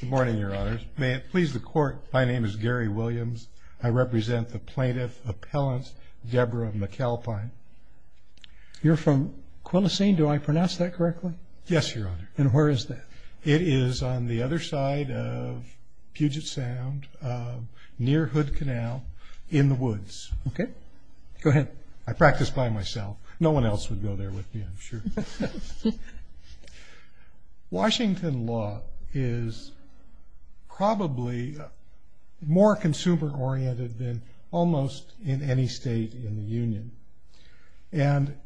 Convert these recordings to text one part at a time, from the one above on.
Good morning, Your Honors. May it please the Court, my name is Gary Williams. I represent the plaintiff, Appellant Deborah McAlpine. You're from Quillacene, do I pronounce that correctly? Yes, Your Honor. And where is that? It is on the other side of Puget Sound, near Hood Canal, in the woods. Okay. Go ahead. I practice by myself. No one else would go there with me, I'm sure. Washington law is probably more consumer oriented than almost in any state in the Union. And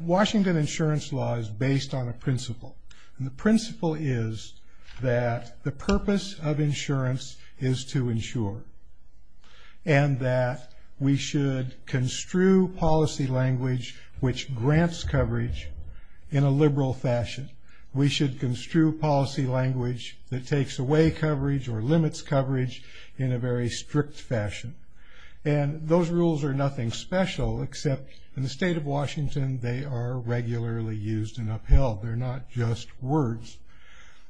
Washington insurance law is based on a principle. And the principle is that the purpose of insurance is to insure. And that we should construe policy language which grants coverage in a liberal fashion. We should construe policy language that takes away coverage or limits coverage in a very strict fashion. And those rules are nothing special, except in the state of Washington, they are regularly used and upheld. They're not just words.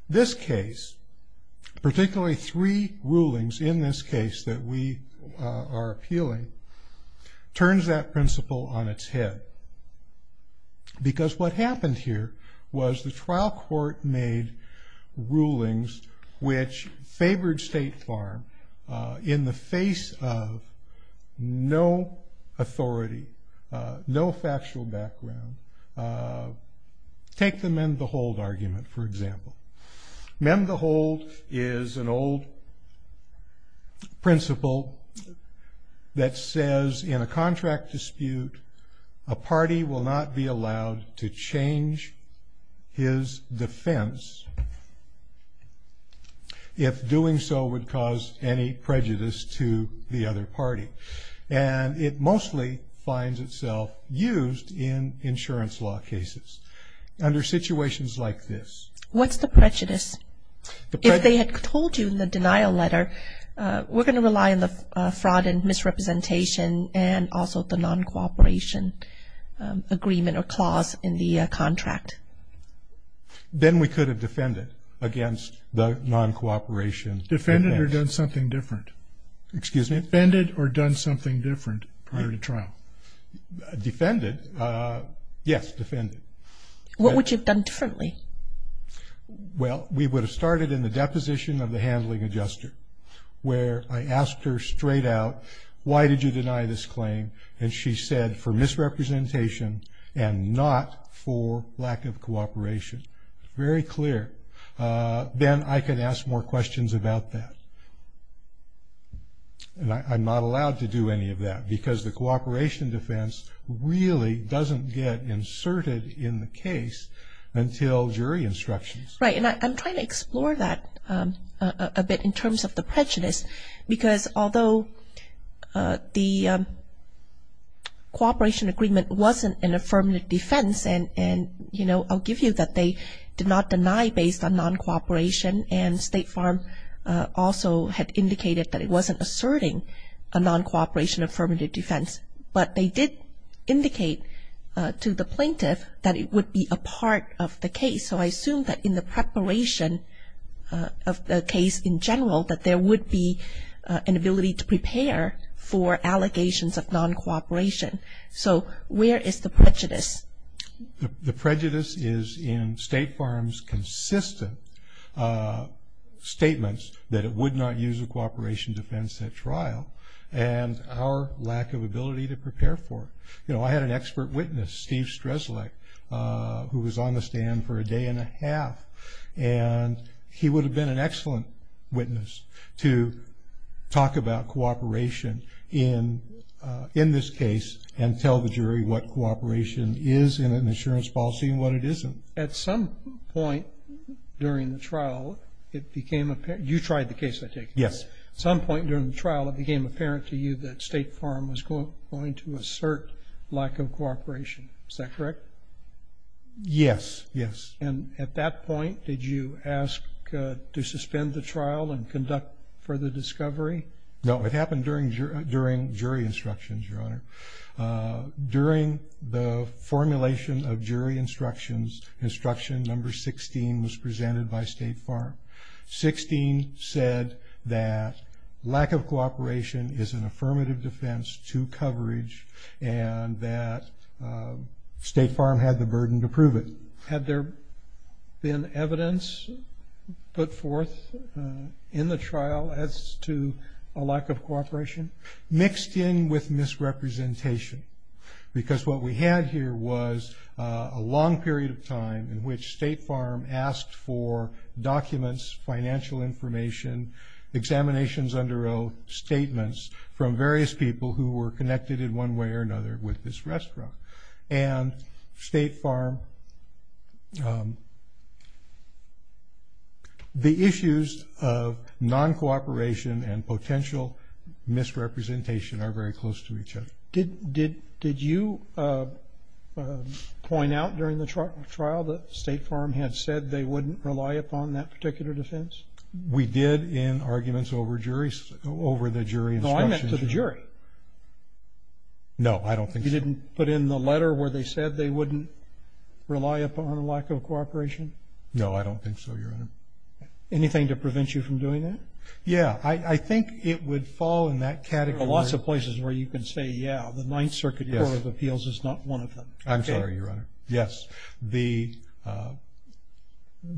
This case, particularly three rulings in this case that we are appealing, turns that principle on its head. Because what happened here was the trial court made rulings which favored State Farm in the face of no authority, no factual background. Take the mend the hold argument, for example. Mend the hold is an old principle that says in a contract dispute, a party will not be allowed to change his defense if doing so would cause any prejudice to the other party. And it mostly finds itself used in insurance law cases under situations like this. What's the prejudice? If they had told you in the denial letter, we're going to rely on the fraud and misrepresentation and also the non-cooperation agreement or clause in the contract. Then we could have defended against the non-cooperation. Defended or done something different. Excuse me? Defended or done something different prior to trial? Defended. Yes, defended. What would you have done differently? Well, we would have started in the deposition of the handling adjuster where I asked her straight out, why did you deny this claim? And she said, for misrepresentation and not for lack of cooperation. Very clear. Then I could ask more questions about that. And I'm not allowed to do any of that because the cooperation defense really doesn't get inserted in the case until jury instructions. Right, and I'm trying to explore that a bit in terms of the prejudice, because although the cooperation agreement wasn't an affirmative defense, and I'll give you that they did not deny based on non-cooperation, and State Farm also had indicated that it wasn't asserting a non-cooperation affirmative defense, but they did indicate to the plaintiff that it would be a part of the case. So I assume that in the preparation of the case in general, that there would be an ability to prepare for allegations of non-cooperation. So where is the prejudice? The prejudice is in State Farm's consistent statements that it would not use a cooperation defense at trial, and our lack of ability to prepare for it. You know, I had an expert witness, Steve Streslek, who was on the stand for a day and a half, and he would have been an excellent witness to talk about cooperation in this case and tell the jury what cooperation is in an insurance policy and what it isn't. At some point during the trial, it became apparent, you tried the case, I take it? Yes. At some point during the trial, it became apparent to you that State Farm was going to assert lack of cooperation. Is that correct? Yes, yes. And at that point, did you ask to suspend the trial and conduct further discovery? No, it happened during jury instructions, Your Honor. During the formulation of jury instructions, instruction number 16 was presented by State Farm. 16 said that lack of cooperation is an affirmative defense to coverage and that State Farm had the burden to prove it. Had there been evidence put forth in the trial as to a lack of cooperation? Mixed in with misrepresentation because what we had here was a long period of time in which State Farm asked for documents, financial information, examinations under oath, statements from various people who were connected in one way or another with this restaurant. And State Farm, the issues of non-cooperation and potential misrepresentation are very close to each other. Did you point out during the trial that State Farm had said they wouldn't rely upon that particular defense? We did in arguments over the jury instructions. No, I meant to the jury. No, I don't think so. You didn't put in the letter where they said they wouldn't rely upon a lack of cooperation? No, I don't think so, Your Honor. Anything to prevent you from doing that? Yeah, I think it would fall in that category. There are lots of places where you can say, yeah, the Ninth Circuit Court of Appeals is not one of them. I'm sorry, Your Honor. Yes.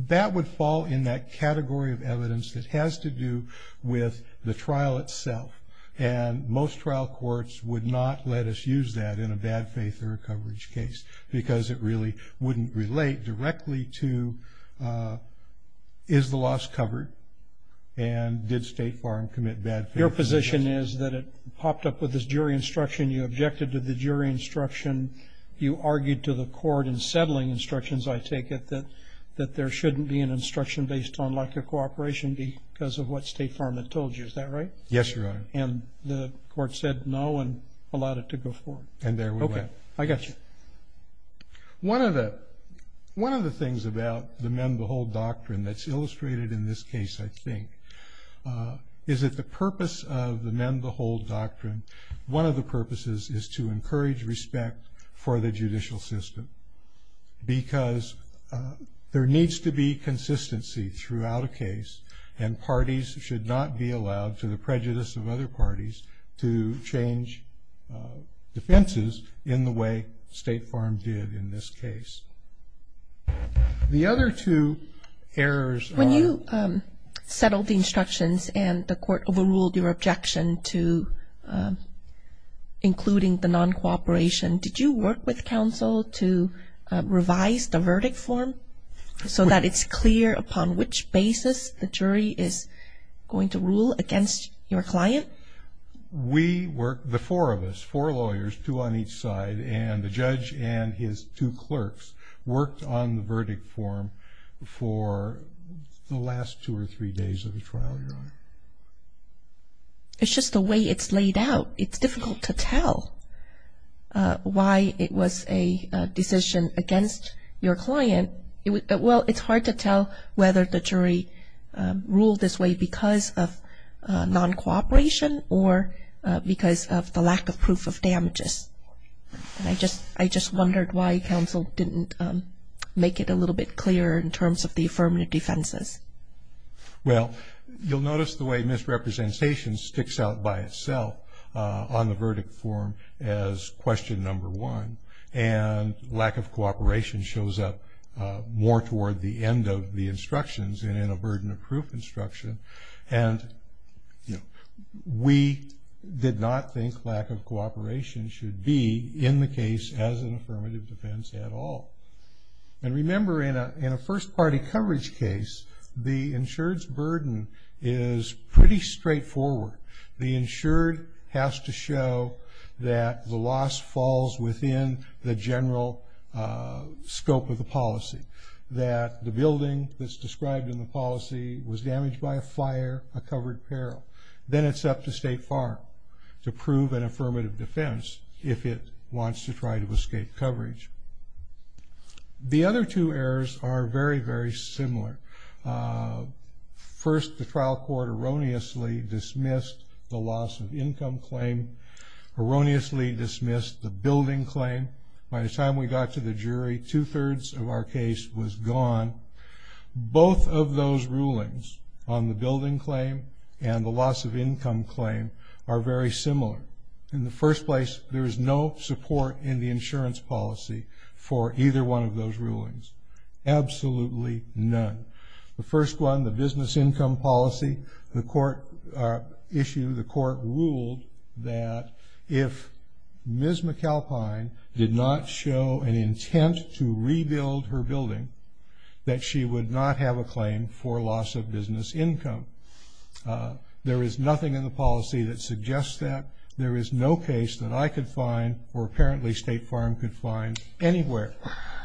That would fall in that category of evidence that has to do with the trial itself. And most trial courts would not let us use that in a bad faith or a coverage case because it really wouldn't relate directly to is the loss covered and did State Farm commit bad faith? Your position is that it popped up with this jury instruction, you objected to the jury instruction, you argued to the court in settling instructions, I take it, that there shouldn't be an instruction based on lack of cooperation because of what State Farm had told you. Is that right? Yes, Your Honor. And the court said no and allowed it to go forward? And there we went. Okay. I got you. One of the things about the men-behold doctrine that's illustrated in this case, I think, is that the purpose of the men-behold doctrine, one of the purposes, and parties should not be allowed, to the prejudice of other parties, to change defenses in the way State Farm did in this case. The other two errors are... When you settled the instructions and the court overruled your objection to including the non-cooperation, did you work with counsel to revise the verdict form so that it's clear upon which basis the jury is going to rule against your client? We worked, the four of us, four lawyers, two on each side, and the judge and his two clerks worked on the verdict form for the last two or three days of the trial, Your Honor. It's just the way it's laid out. It's difficult to tell why it was a decision against your client. Well, it's hard to tell whether the jury ruled this way because of non-cooperation or because of the lack of proof of damages. And I just wondered why counsel didn't make it a little bit clearer in terms of the affirmative defenses. Well, you'll notice the way misrepresentation sticks out by itself on the verdict form as question number one, and lack of cooperation shows up more toward the end of the instructions and in a burden of proof instruction. And we did not think lack of cooperation should be in the case as an affirmative defense at all. And remember, in a first-party coverage case, the insured's burden is pretty straightforward. The insured has to show that the loss falls within the general scope of the policy, that the building that's described in the policy was damaged by a fire, a covered peril. Then it's up to State Farm to prove an affirmative defense if it wants to try to escape coverage. The other two errors are very, very similar. First, the trial court erroneously dismissed the loss of income claim, erroneously dismissed the building claim. By the time we got to the jury, two-thirds of our case was gone. Both of those rulings on the building claim and the loss of income claim are very similar. In the first place, there is no support in the insurance policy for either one of those rulings, absolutely none. The first one, the business income policy, the court issued, the court ruled, that if Ms. McAlpine did not show an intent to rebuild her building, that she would not have a claim for loss of business income. There is nothing in the policy that suggests that. There is no case that I could find, or apparently State Farm could find anywhere,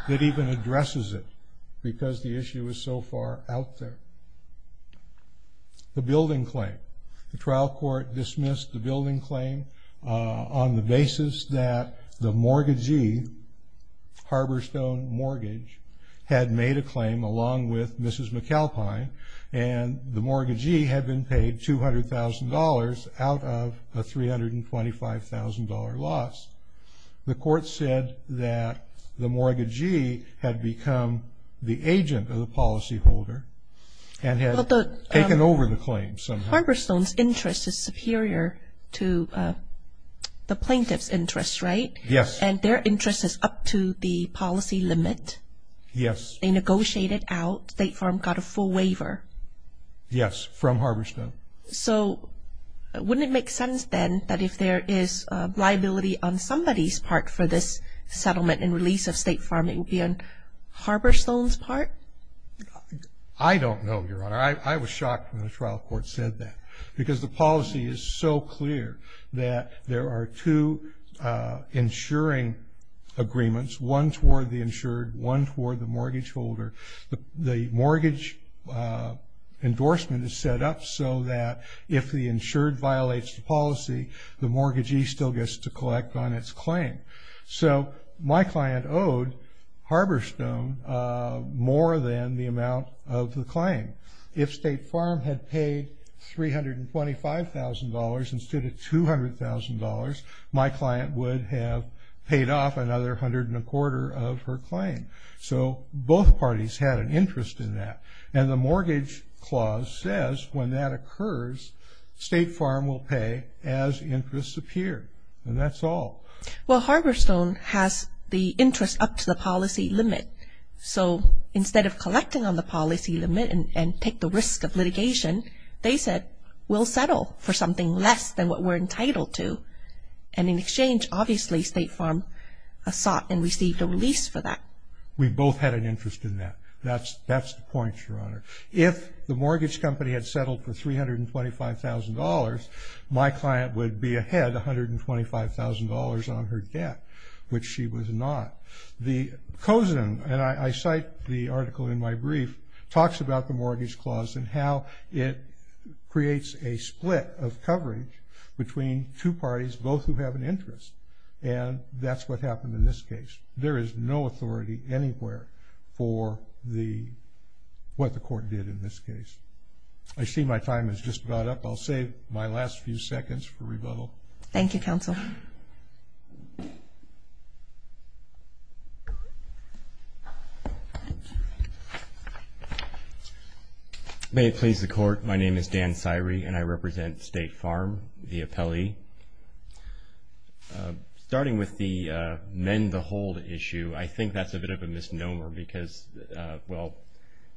that even addresses it because the issue is so far out there. The building claim. The trial court dismissed the building claim on the basis that the mortgagee, Harborstone Mortgage, had made a claim along with Mrs. McAlpine, and the mortgagee had been paid $200,000 out of a $325,000 loss. The court said that the mortgagee had become the agent of the policyholder and had taken over the claim somehow. Harborstone's interest is superior to the plaintiff's interest, right? Yes. And their interest is up to the policy limit. Yes. They negotiated out. State Farm got a full waiver. Yes, from Harborstone. So wouldn't it make sense then that if there is liability on somebody's part for this settlement and release of State Farm, it would be on Harborstone's part? I don't know, Your Honor. I was shocked when the trial court said that because the policy is so clear that there are two insuring agreements, one toward the insured, one toward the mortgageholder. The mortgage endorsement is set up so that if the insured violates the policy, the mortgagee still gets to collect on its claim. So my client owed Harborstone more than the amount of the claim. If State Farm had paid $325,000 instead of $200,000, my client would have paid off another hundred and a quarter of her claim. So both parties had an interest in that. And the mortgage clause says when that occurs, State Farm will pay as interests appear. And that's all. Well, Harborstone has the interest up to the policy limit. So instead of collecting on the policy limit and take the risk of litigation, they said we'll settle for something less than what we're entitled to. And in exchange, obviously, State Farm sought and received a release for that. We both had an interest in that. That's the point, Your Honor. If the mortgage company had settled for $325,000, my client would be ahead $125,000 on her debt, which she was not. The COSIN, and I cite the article in my brief, talks about the mortgage clause and how it creates a split of coverage between two parties, both who have an interest. And that's what happened in this case. There is no authority anywhere for what the court did in this case. I see my time is just about up. I'll save my last few seconds for rebuttal. Thank you, Counsel. May it please the Court. My name is Dan Sirey, and I represent State Farm, the appellee. Starting with the mend the hold issue, I think that's a bit of a misnomer because, well,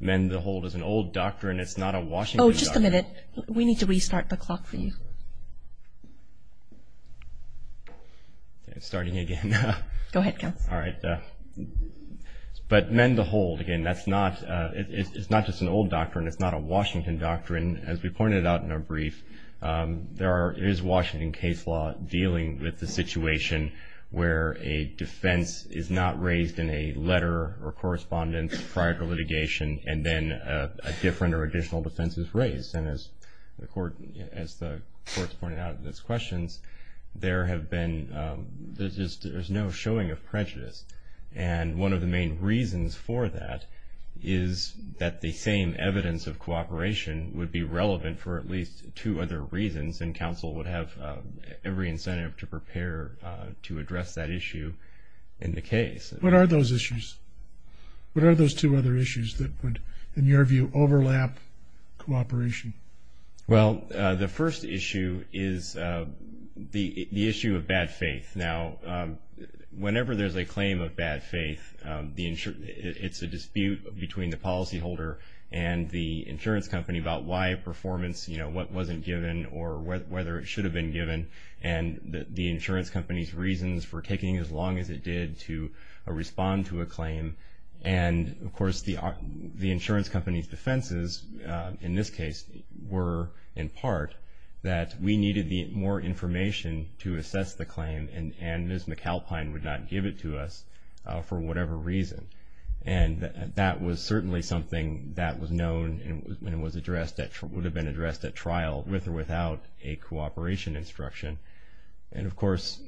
mend the hold is an old doctrine. It's not a Washington doctrine. Oh, just a minute. We need to restart the clock for you. It's starting again. Go ahead, Counsel. All right. But mend the hold, again, it's not just an old doctrine. It's not a Washington doctrine. As we pointed out in our brief, there is Washington case law dealing with the situation where a defense is not raised in a letter or correspondence prior to litigation and then a different or additional defense is raised. And as the Court has pointed out in its questions, there have been no showing of prejudice. And one of the main reasons for that is that the same evidence of cooperation would be relevant for at least two other reasons, and Counsel would have every incentive to prepare to address that issue in the case. What are those issues? What are those two other issues that would, in your view, overlap cooperation? Well, the first issue is the issue of bad faith. Now, whenever there's a claim of bad faith, it's a dispute between the policyholder and the insurance company about why a performance, you know, what wasn't given or whether it should have been given, and the insurance company's reasons for taking as long as it did to respond to a claim. And, of course, the insurance company's defenses, in this case, were in part that we needed more information to assess the claim, and Ms. McAlpine would not give it to us for whatever reason. And that was certainly something that was known and would have been addressed at trial with or without a cooperation instruction. And, of course,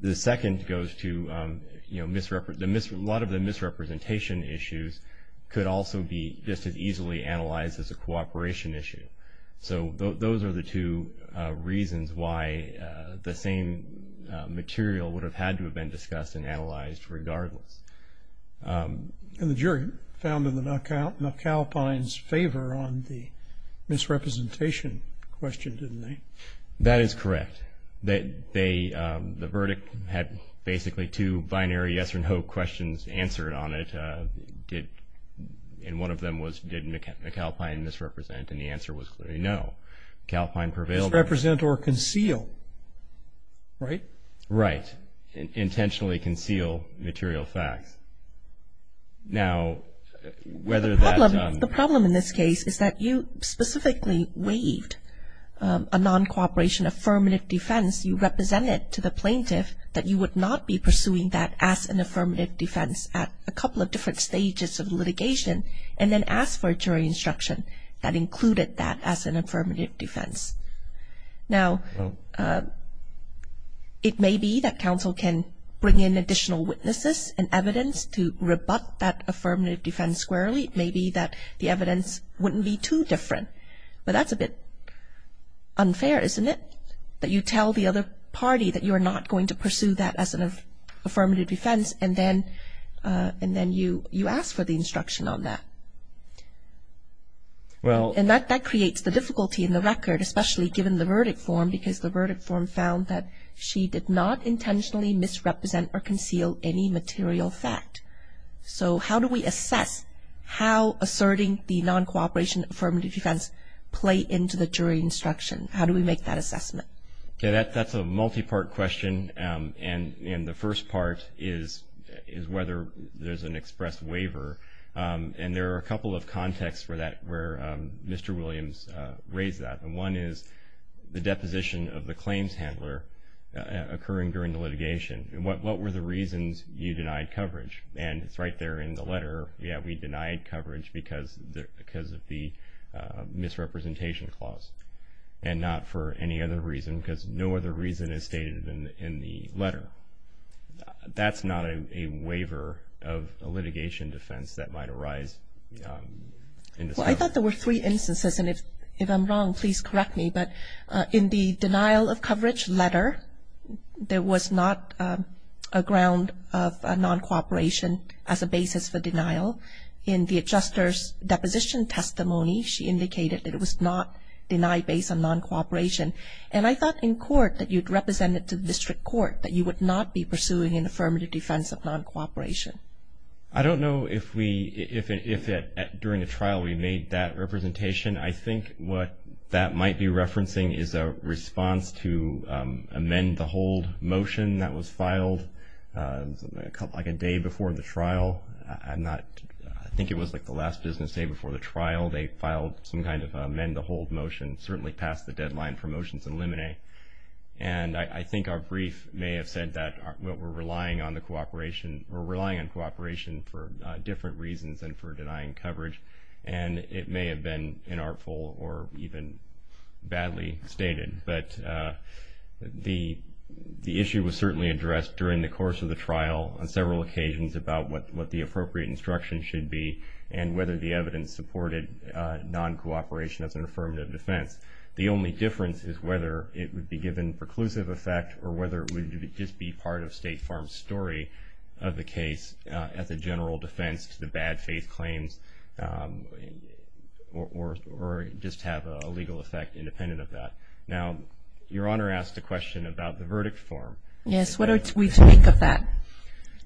the second goes to, you know, a lot of the misrepresentation issues could also be just as easily analyzed as a cooperation issue. So those are the two reasons why the same material would have had to have been discussed and analyzed regardless. And the jury found in McAlpine's favor on the misrepresentation question, didn't they? That is correct. The verdict had basically two binary yes or no questions answered on it. And one of them was, did McAlpine misrepresent, and the answer was clearly no. McAlpine prevailed. Misrepresent or conceal, right? Right. Intentionally conceal material facts. Now, whether that The problem in this case is that you specifically waived a non-cooperation affirmative defense. You represented to the plaintiff that you would not be pursuing that as an affirmative defense at a couple of different stages of litigation, and then asked for a jury instruction that included that as an affirmative defense. Now, it may be that counsel can bring in additional witnesses and evidence to rebut that affirmative defense squarely. It may be that the evidence wouldn't be too different. But that's a bit unfair, isn't it? That you tell the other party that you are not going to pursue that as an affirmative defense, and then you ask for the instruction on that. And that creates the difficulty in the record, especially given the verdict form, because the verdict form found that she did not intentionally misrepresent or conceal any material fact. So how do we assess how asserting the non-cooperation affirmative defense play into the jury instruction? How do we make that assessment? That's a multi-part question, and the first part is whether there's an expressed waiver. And there are a couple of contexts where Mr. Williams raised that. And one is the deposition of the claims handler occurring during the litigation. What were the reasons you denied coverage? And it's right there in the letter. Yeah, we denied coverage because of the misrepresentation clause, and not for any other reason because no other reason is stated in the letter. That's not a waiver of a litigation defense that might arise. Well, I thought there were three instances, and if I'm wrong, please correct me. But in the denial of coverage letter, there was not a ground of non-cooperation as a basis for denial. In the adjuster's deposition testimony, she indicated that it was not denied based on non-cooperation. And I thought in court that you'd represent it to the district court, that you would not be pursuing an affirmative defense of non-cooperation. I don't know if during the trial we made that representation. I think what that might be referencing is a response to amend the hold motion that was filed like a day before the trial. I think it was like the last business day before the trial. They filed some kind of amend the hold motion, certainly past the deadline for motions in limine. And I think our brief may have said that we're relying on cooperation for different reasons than for denying coverage. And it may have been inartful or even badly stated. But the issue was certainly addressed during the course of the trial on several occasions about what the appropriate instruction should be and whether the evidence supported non-cooperation as an affirmative defense. The only difference is whether it would be given preclusive effect or whether it would just be part of State Farm's story of the case as a general defense to the bad faith claims or just have a legal effect independent of that. Now, Your Honor asked a question about the verdict form. Yes, what do we think of that?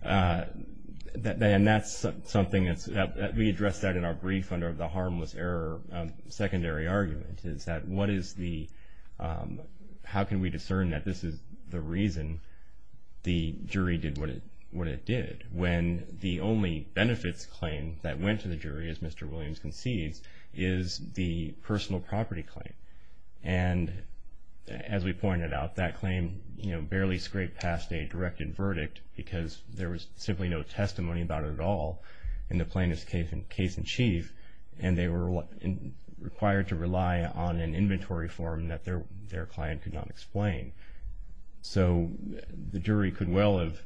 And that's something that we addressed that in our brief under the harmless error secondary argument is that how can we discern that this is the reason the jury did what it did when the only benefits claim that went to the jury, as Mr. Williams concedes, is the personal property claim. And as we pointed out, that claim barely scraped past a directed verdict because there was simply no testimony about it at all in the plaintiff's case in chief. And they were required to rely on an inventory form that their client could not explain. So the jury could well have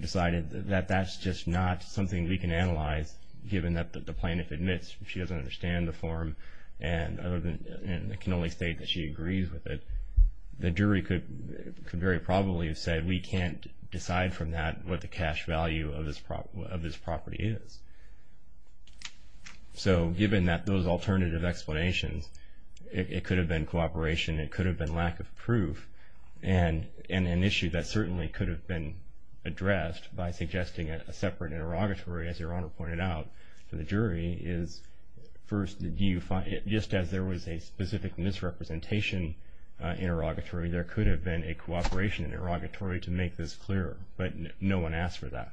decided that that's just not something we can analyze given that the plaintiff admits she doesn't understand the form and can only state that she agrees with it. The jury could very probably have said we can't decide from that what the cash value of this property is. So given those alternative explanations, it could have been cooperation, it could have been lack of proof, and an issue that certainly could have been addressed by suggesting a separate interrogatory, as Your Honor pointed out, to the jury is first, just as there was a specific misrepresentation interrogatory, there could have been a cooperation interrogatory to make this clearer. But no one asked for that.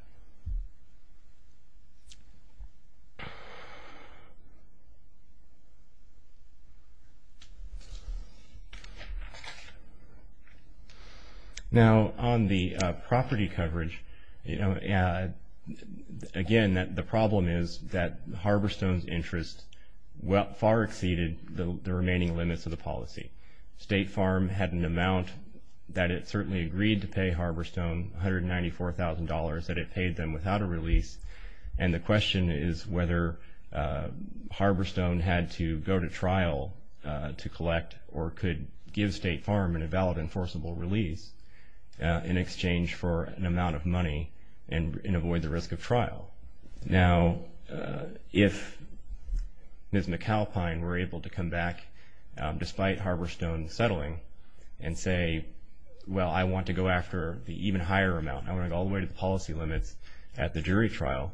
Now on the property coverage, again, the problem is that Harborstone's interest far exceeded the remaining limits of the policy. State Farm had an amount that it certainly agreed to pay Harborstone, $194,000, that it paid them without a release. And the question is whether Harborstone had to go to trial to collect or could give State Farm an invalid enforceable release in exchange for an amount of money and avoid the risk of trial. Now if Ms. McAlpine were able to come back, despite Harborstone settling, and say, well, I want to go after the even higher amount. I want to go all the way to the policy limits at the jury trial.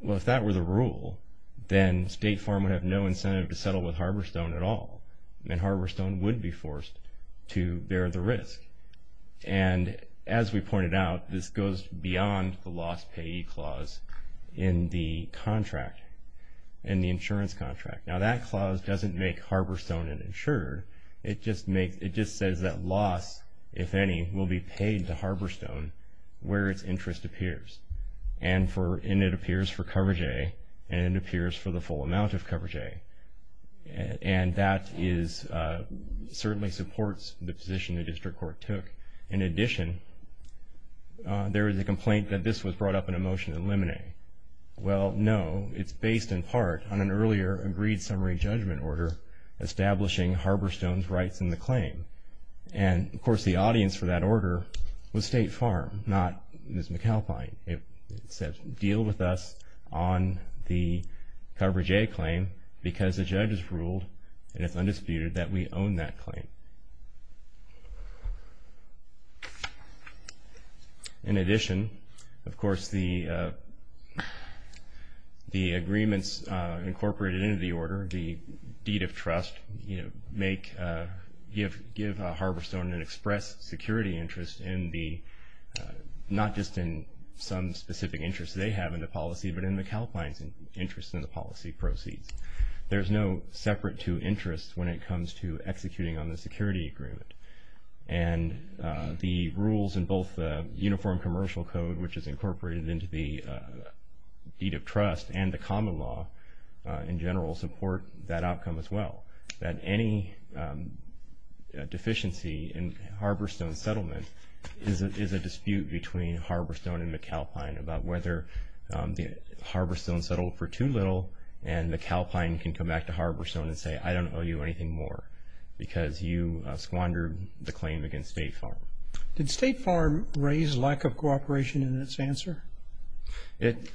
Well, if that were the rule, then State Farm would have no incentive to settle with Harborstone at all. And Harborstone would be forced to bear the risk. And as we pointed out, this goes beyond the loss payee clause in the contract, in the insurance contract. Now that clause doesn't make Harborstone an insurer. It just says that loss, if any, will be paid to Harborstone where its interest appears. And it appears for coverage A, and it appears for the full amount of coverage A. And that certainly supports the position the district court took. In addition, there is a complaint that this was brought up in a motion to eliminate. Well, no, it's based in part on an earlier agreed summary judgment order establishing Harborstone's rights in the claim. And, of course, the audience for that order was State Farm, not Ms. McAlpine. It said, deal with us on the coverage A claim because the judge has ruled, and it's undisputed, that we own that claim. In addition, of course, the agreements incorporated into the order, the deed of trust, make, give Harborstone an express security interest in the, not just in some specific interest they have in the policy, but in McAlpine's interest in the policy proceeds. There's no separate to interest when it comes to executing on the security agreement. And the rules in both the uniform commercial code, which is incorporated into the deed of trust, and the common law in general support that outcome as well. That any deficiency in Harborstone's settlement is a dispute between Harborstone and McAlpine about whether Harborstone settled for too little and McAlpine can come back to Harborstone and say, I don't owe you anything more because you squandered the claim against State Farm. Did State Farm raise lack of cooperation in its answer? It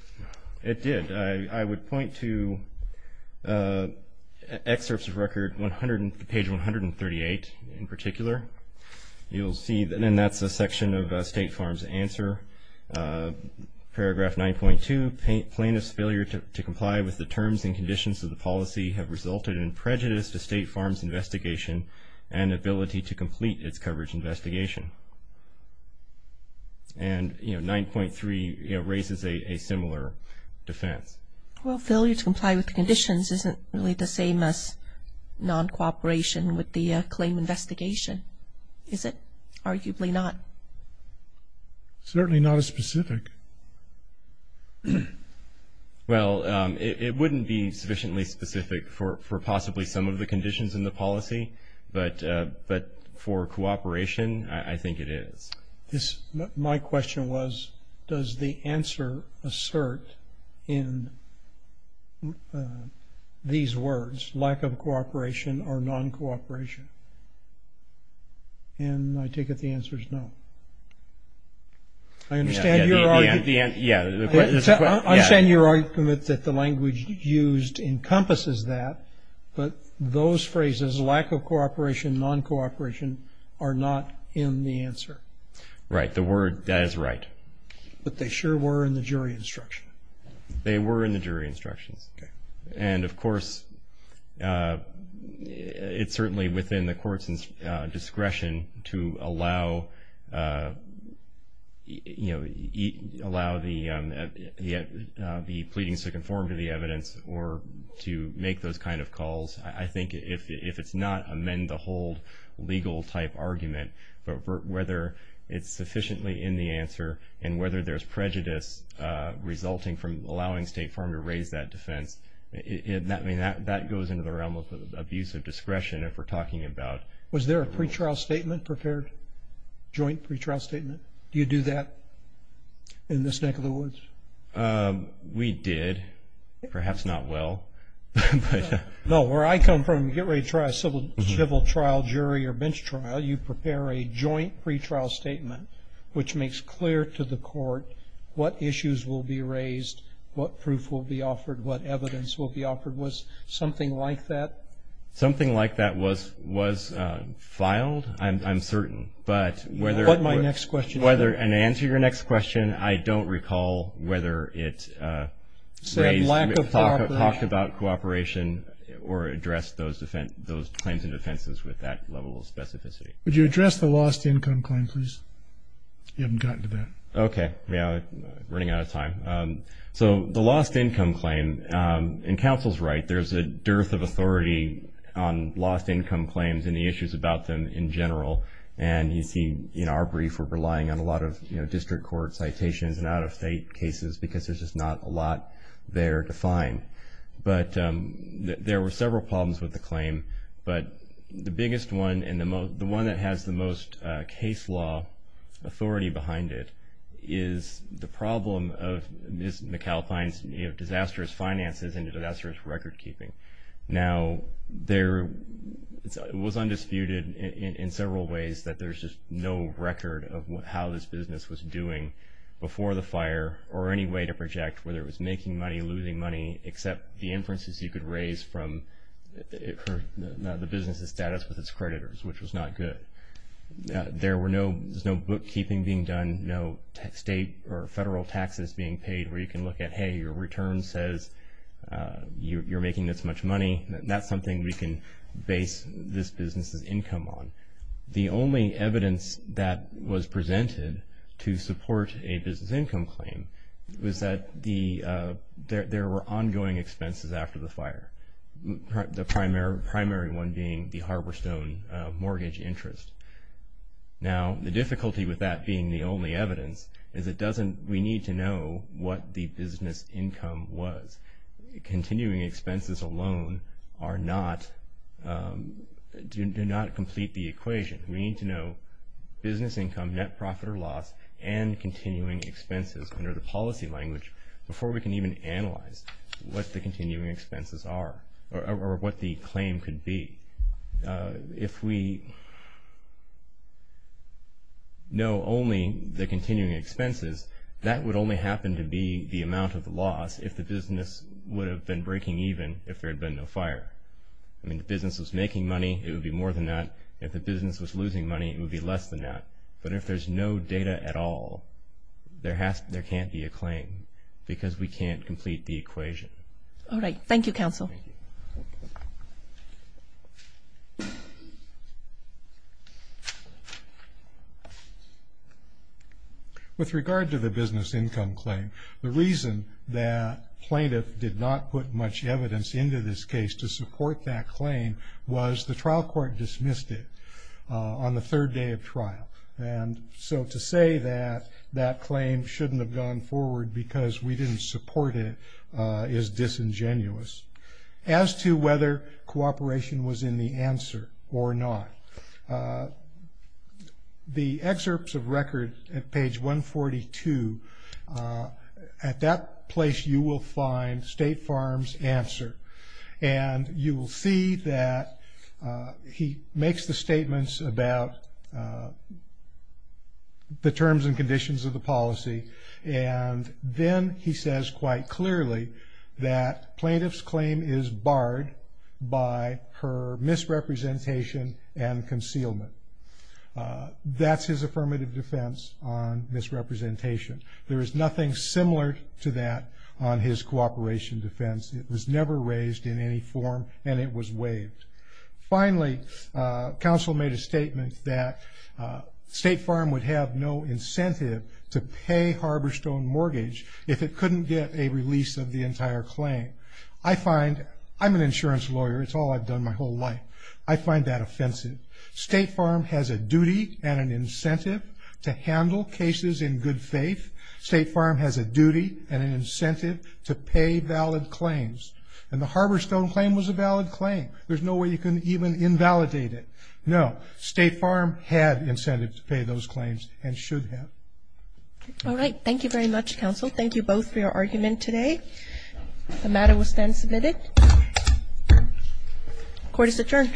did. I would point to excerpts of record 100, page 138 in particular. You'll see, and that's a section of State Farm's answer, paragraph 9.2, plaintiff's failure to comply with the terms and conditions of the policy have resulted in prejudice to State Farm's investigation and ability to complete its coverage investigation. And, you know, 9.3 raises a similar defense. Well, failure to comply with the conditions isn't really the same as non-cooperation with the claim investigation, is it? Arguably not. Certainly not as specific. Well, it wouldn't be sufficiently specific for possibly some of the conditions in the policy, but for cooperation, I think it is. My question was, does the answer assert in these words, lack of cooperation or non-cooperation? And I take it the answer is no. I understand your argument that the language used encompasses that, but those phrases, lack of cooperation, non-cooperation, are not in the answer. Right. The word, that is right. But they sure were in the jury instruction. They were in the jury instructions. And, of course, it's certainly within the court's discretion to allow, you know, allow the pleadings to conform to the evidence or to make those kind of calls. I think if it's not amend-the-hold legal-type argument, but whether it's sufficiently in the answer and whether there's prejudice resulting from allowing State Farm to raise that defense, I mean, that goes into the realm of abuse of discretion if we're talking about. Was there a pretrial statement prepared, joint pretrial statement? Do you do that in this neck of the woods? We did, perhaps not well. No, where I come from, you get ready to try a civil trial jury or bench trial, you prepare a joint pretrial statement, which makes clear to the court what issues will be raised, what proof will be offered, what evidence will be offered. Was something like that? Something like that was filed, I'm certain. But whether- What's my next question? And to answer your next question, I don't recall whether it raised- Said lack of cooperation. Talked about cooperation or addressed those claims and defenses with that level of specificity. Would you address the lost income claim, please? You haven't gotten to that. Okay. Yeah, running out of time. So the lost income claim, and counsel's right, there's a dearth of authority on lost income claims and the issues about them in general. And you see in our brief, we're relying on a lot of district court citations and out-of-state cases because there's just not a lot there to find. But there were several problems with the claim, but the biggest one and the one that has the most case law authority behind it is the problem of, Ms. McAlpine's disastrous finances and disastrous record keeping. Now, there was undisputed in several ways that there's just no record of how this business was doing before the fire or any way to project whether it was making money, losing money, except the inferences you could raise from the business's status with its creditors, which was not good. There was no bookkeeping being done, no state or federal taxes being paid where you can look at, hey, your return says you're making this much money. That's something we can base this business's income on. The only evidence that was presented to support a business income claim was that there were ongoing expenses after the fire, the primary one being the Harborstone mortgage interest. Now, the difficulty with that being the only evidence is we need to know what the business income was. Continuing expenses alone do not complete the equation. We need to know business income, net profit or loss, and continuing expenses under the policy language before we can even analyze what the continuing expenses are or what the claim could be. If we know only the continuing expenses, that would only happen to be the amount of the loss if the business would have been breaking even if there had been no fire. I mean, if the business was making money, it would be more than that. If the business was losing money, it would be less than that. But if there's no data at all, there can't be a claim because we can't complete the equation. All right. Thank you, Counsel. With regard to the business income claim, the reason that plaintiff did not put much evidence into this case to support that claim was the trial court dismissed it on the third day of trial. And so to say that that claim shouldn't have gone forward because we didn't support it is disingenuous. As to whether cooperation was in the answer or not, the excerpts of record at page 142, at that place you will find State Farm's answer. And you will see that he makes the statements about the terms and conditions of the policy. And then he says quite clearly that plaintiff's claim is barred by her misrepresentation and concealment. That's his affirmative defense on misrepresentation. There is nothing similar to that on his cooperation defense. It was never raised in any form and it was waived. Finally, Counsel made a statement that State Farm would have no incentive to pay Harborstone Mortgage if it couldn't get a release of the entire claim. I'm an insurance lawyer. It's all I've done my whole life. I find that offensive. State Farm has a duty and an incentive to handle cases in good faith. State Farm has a duty and an incentive to pay valid claims. And the Harborstone claim was a valid claim. There's no way you can even invalidate it. No. State Farm had incentive to pay those claims and should have. All right. Thank you very much, Counsel. Thank you both for your argument today. The matter will stand submitted. Court is adjourned. All rise.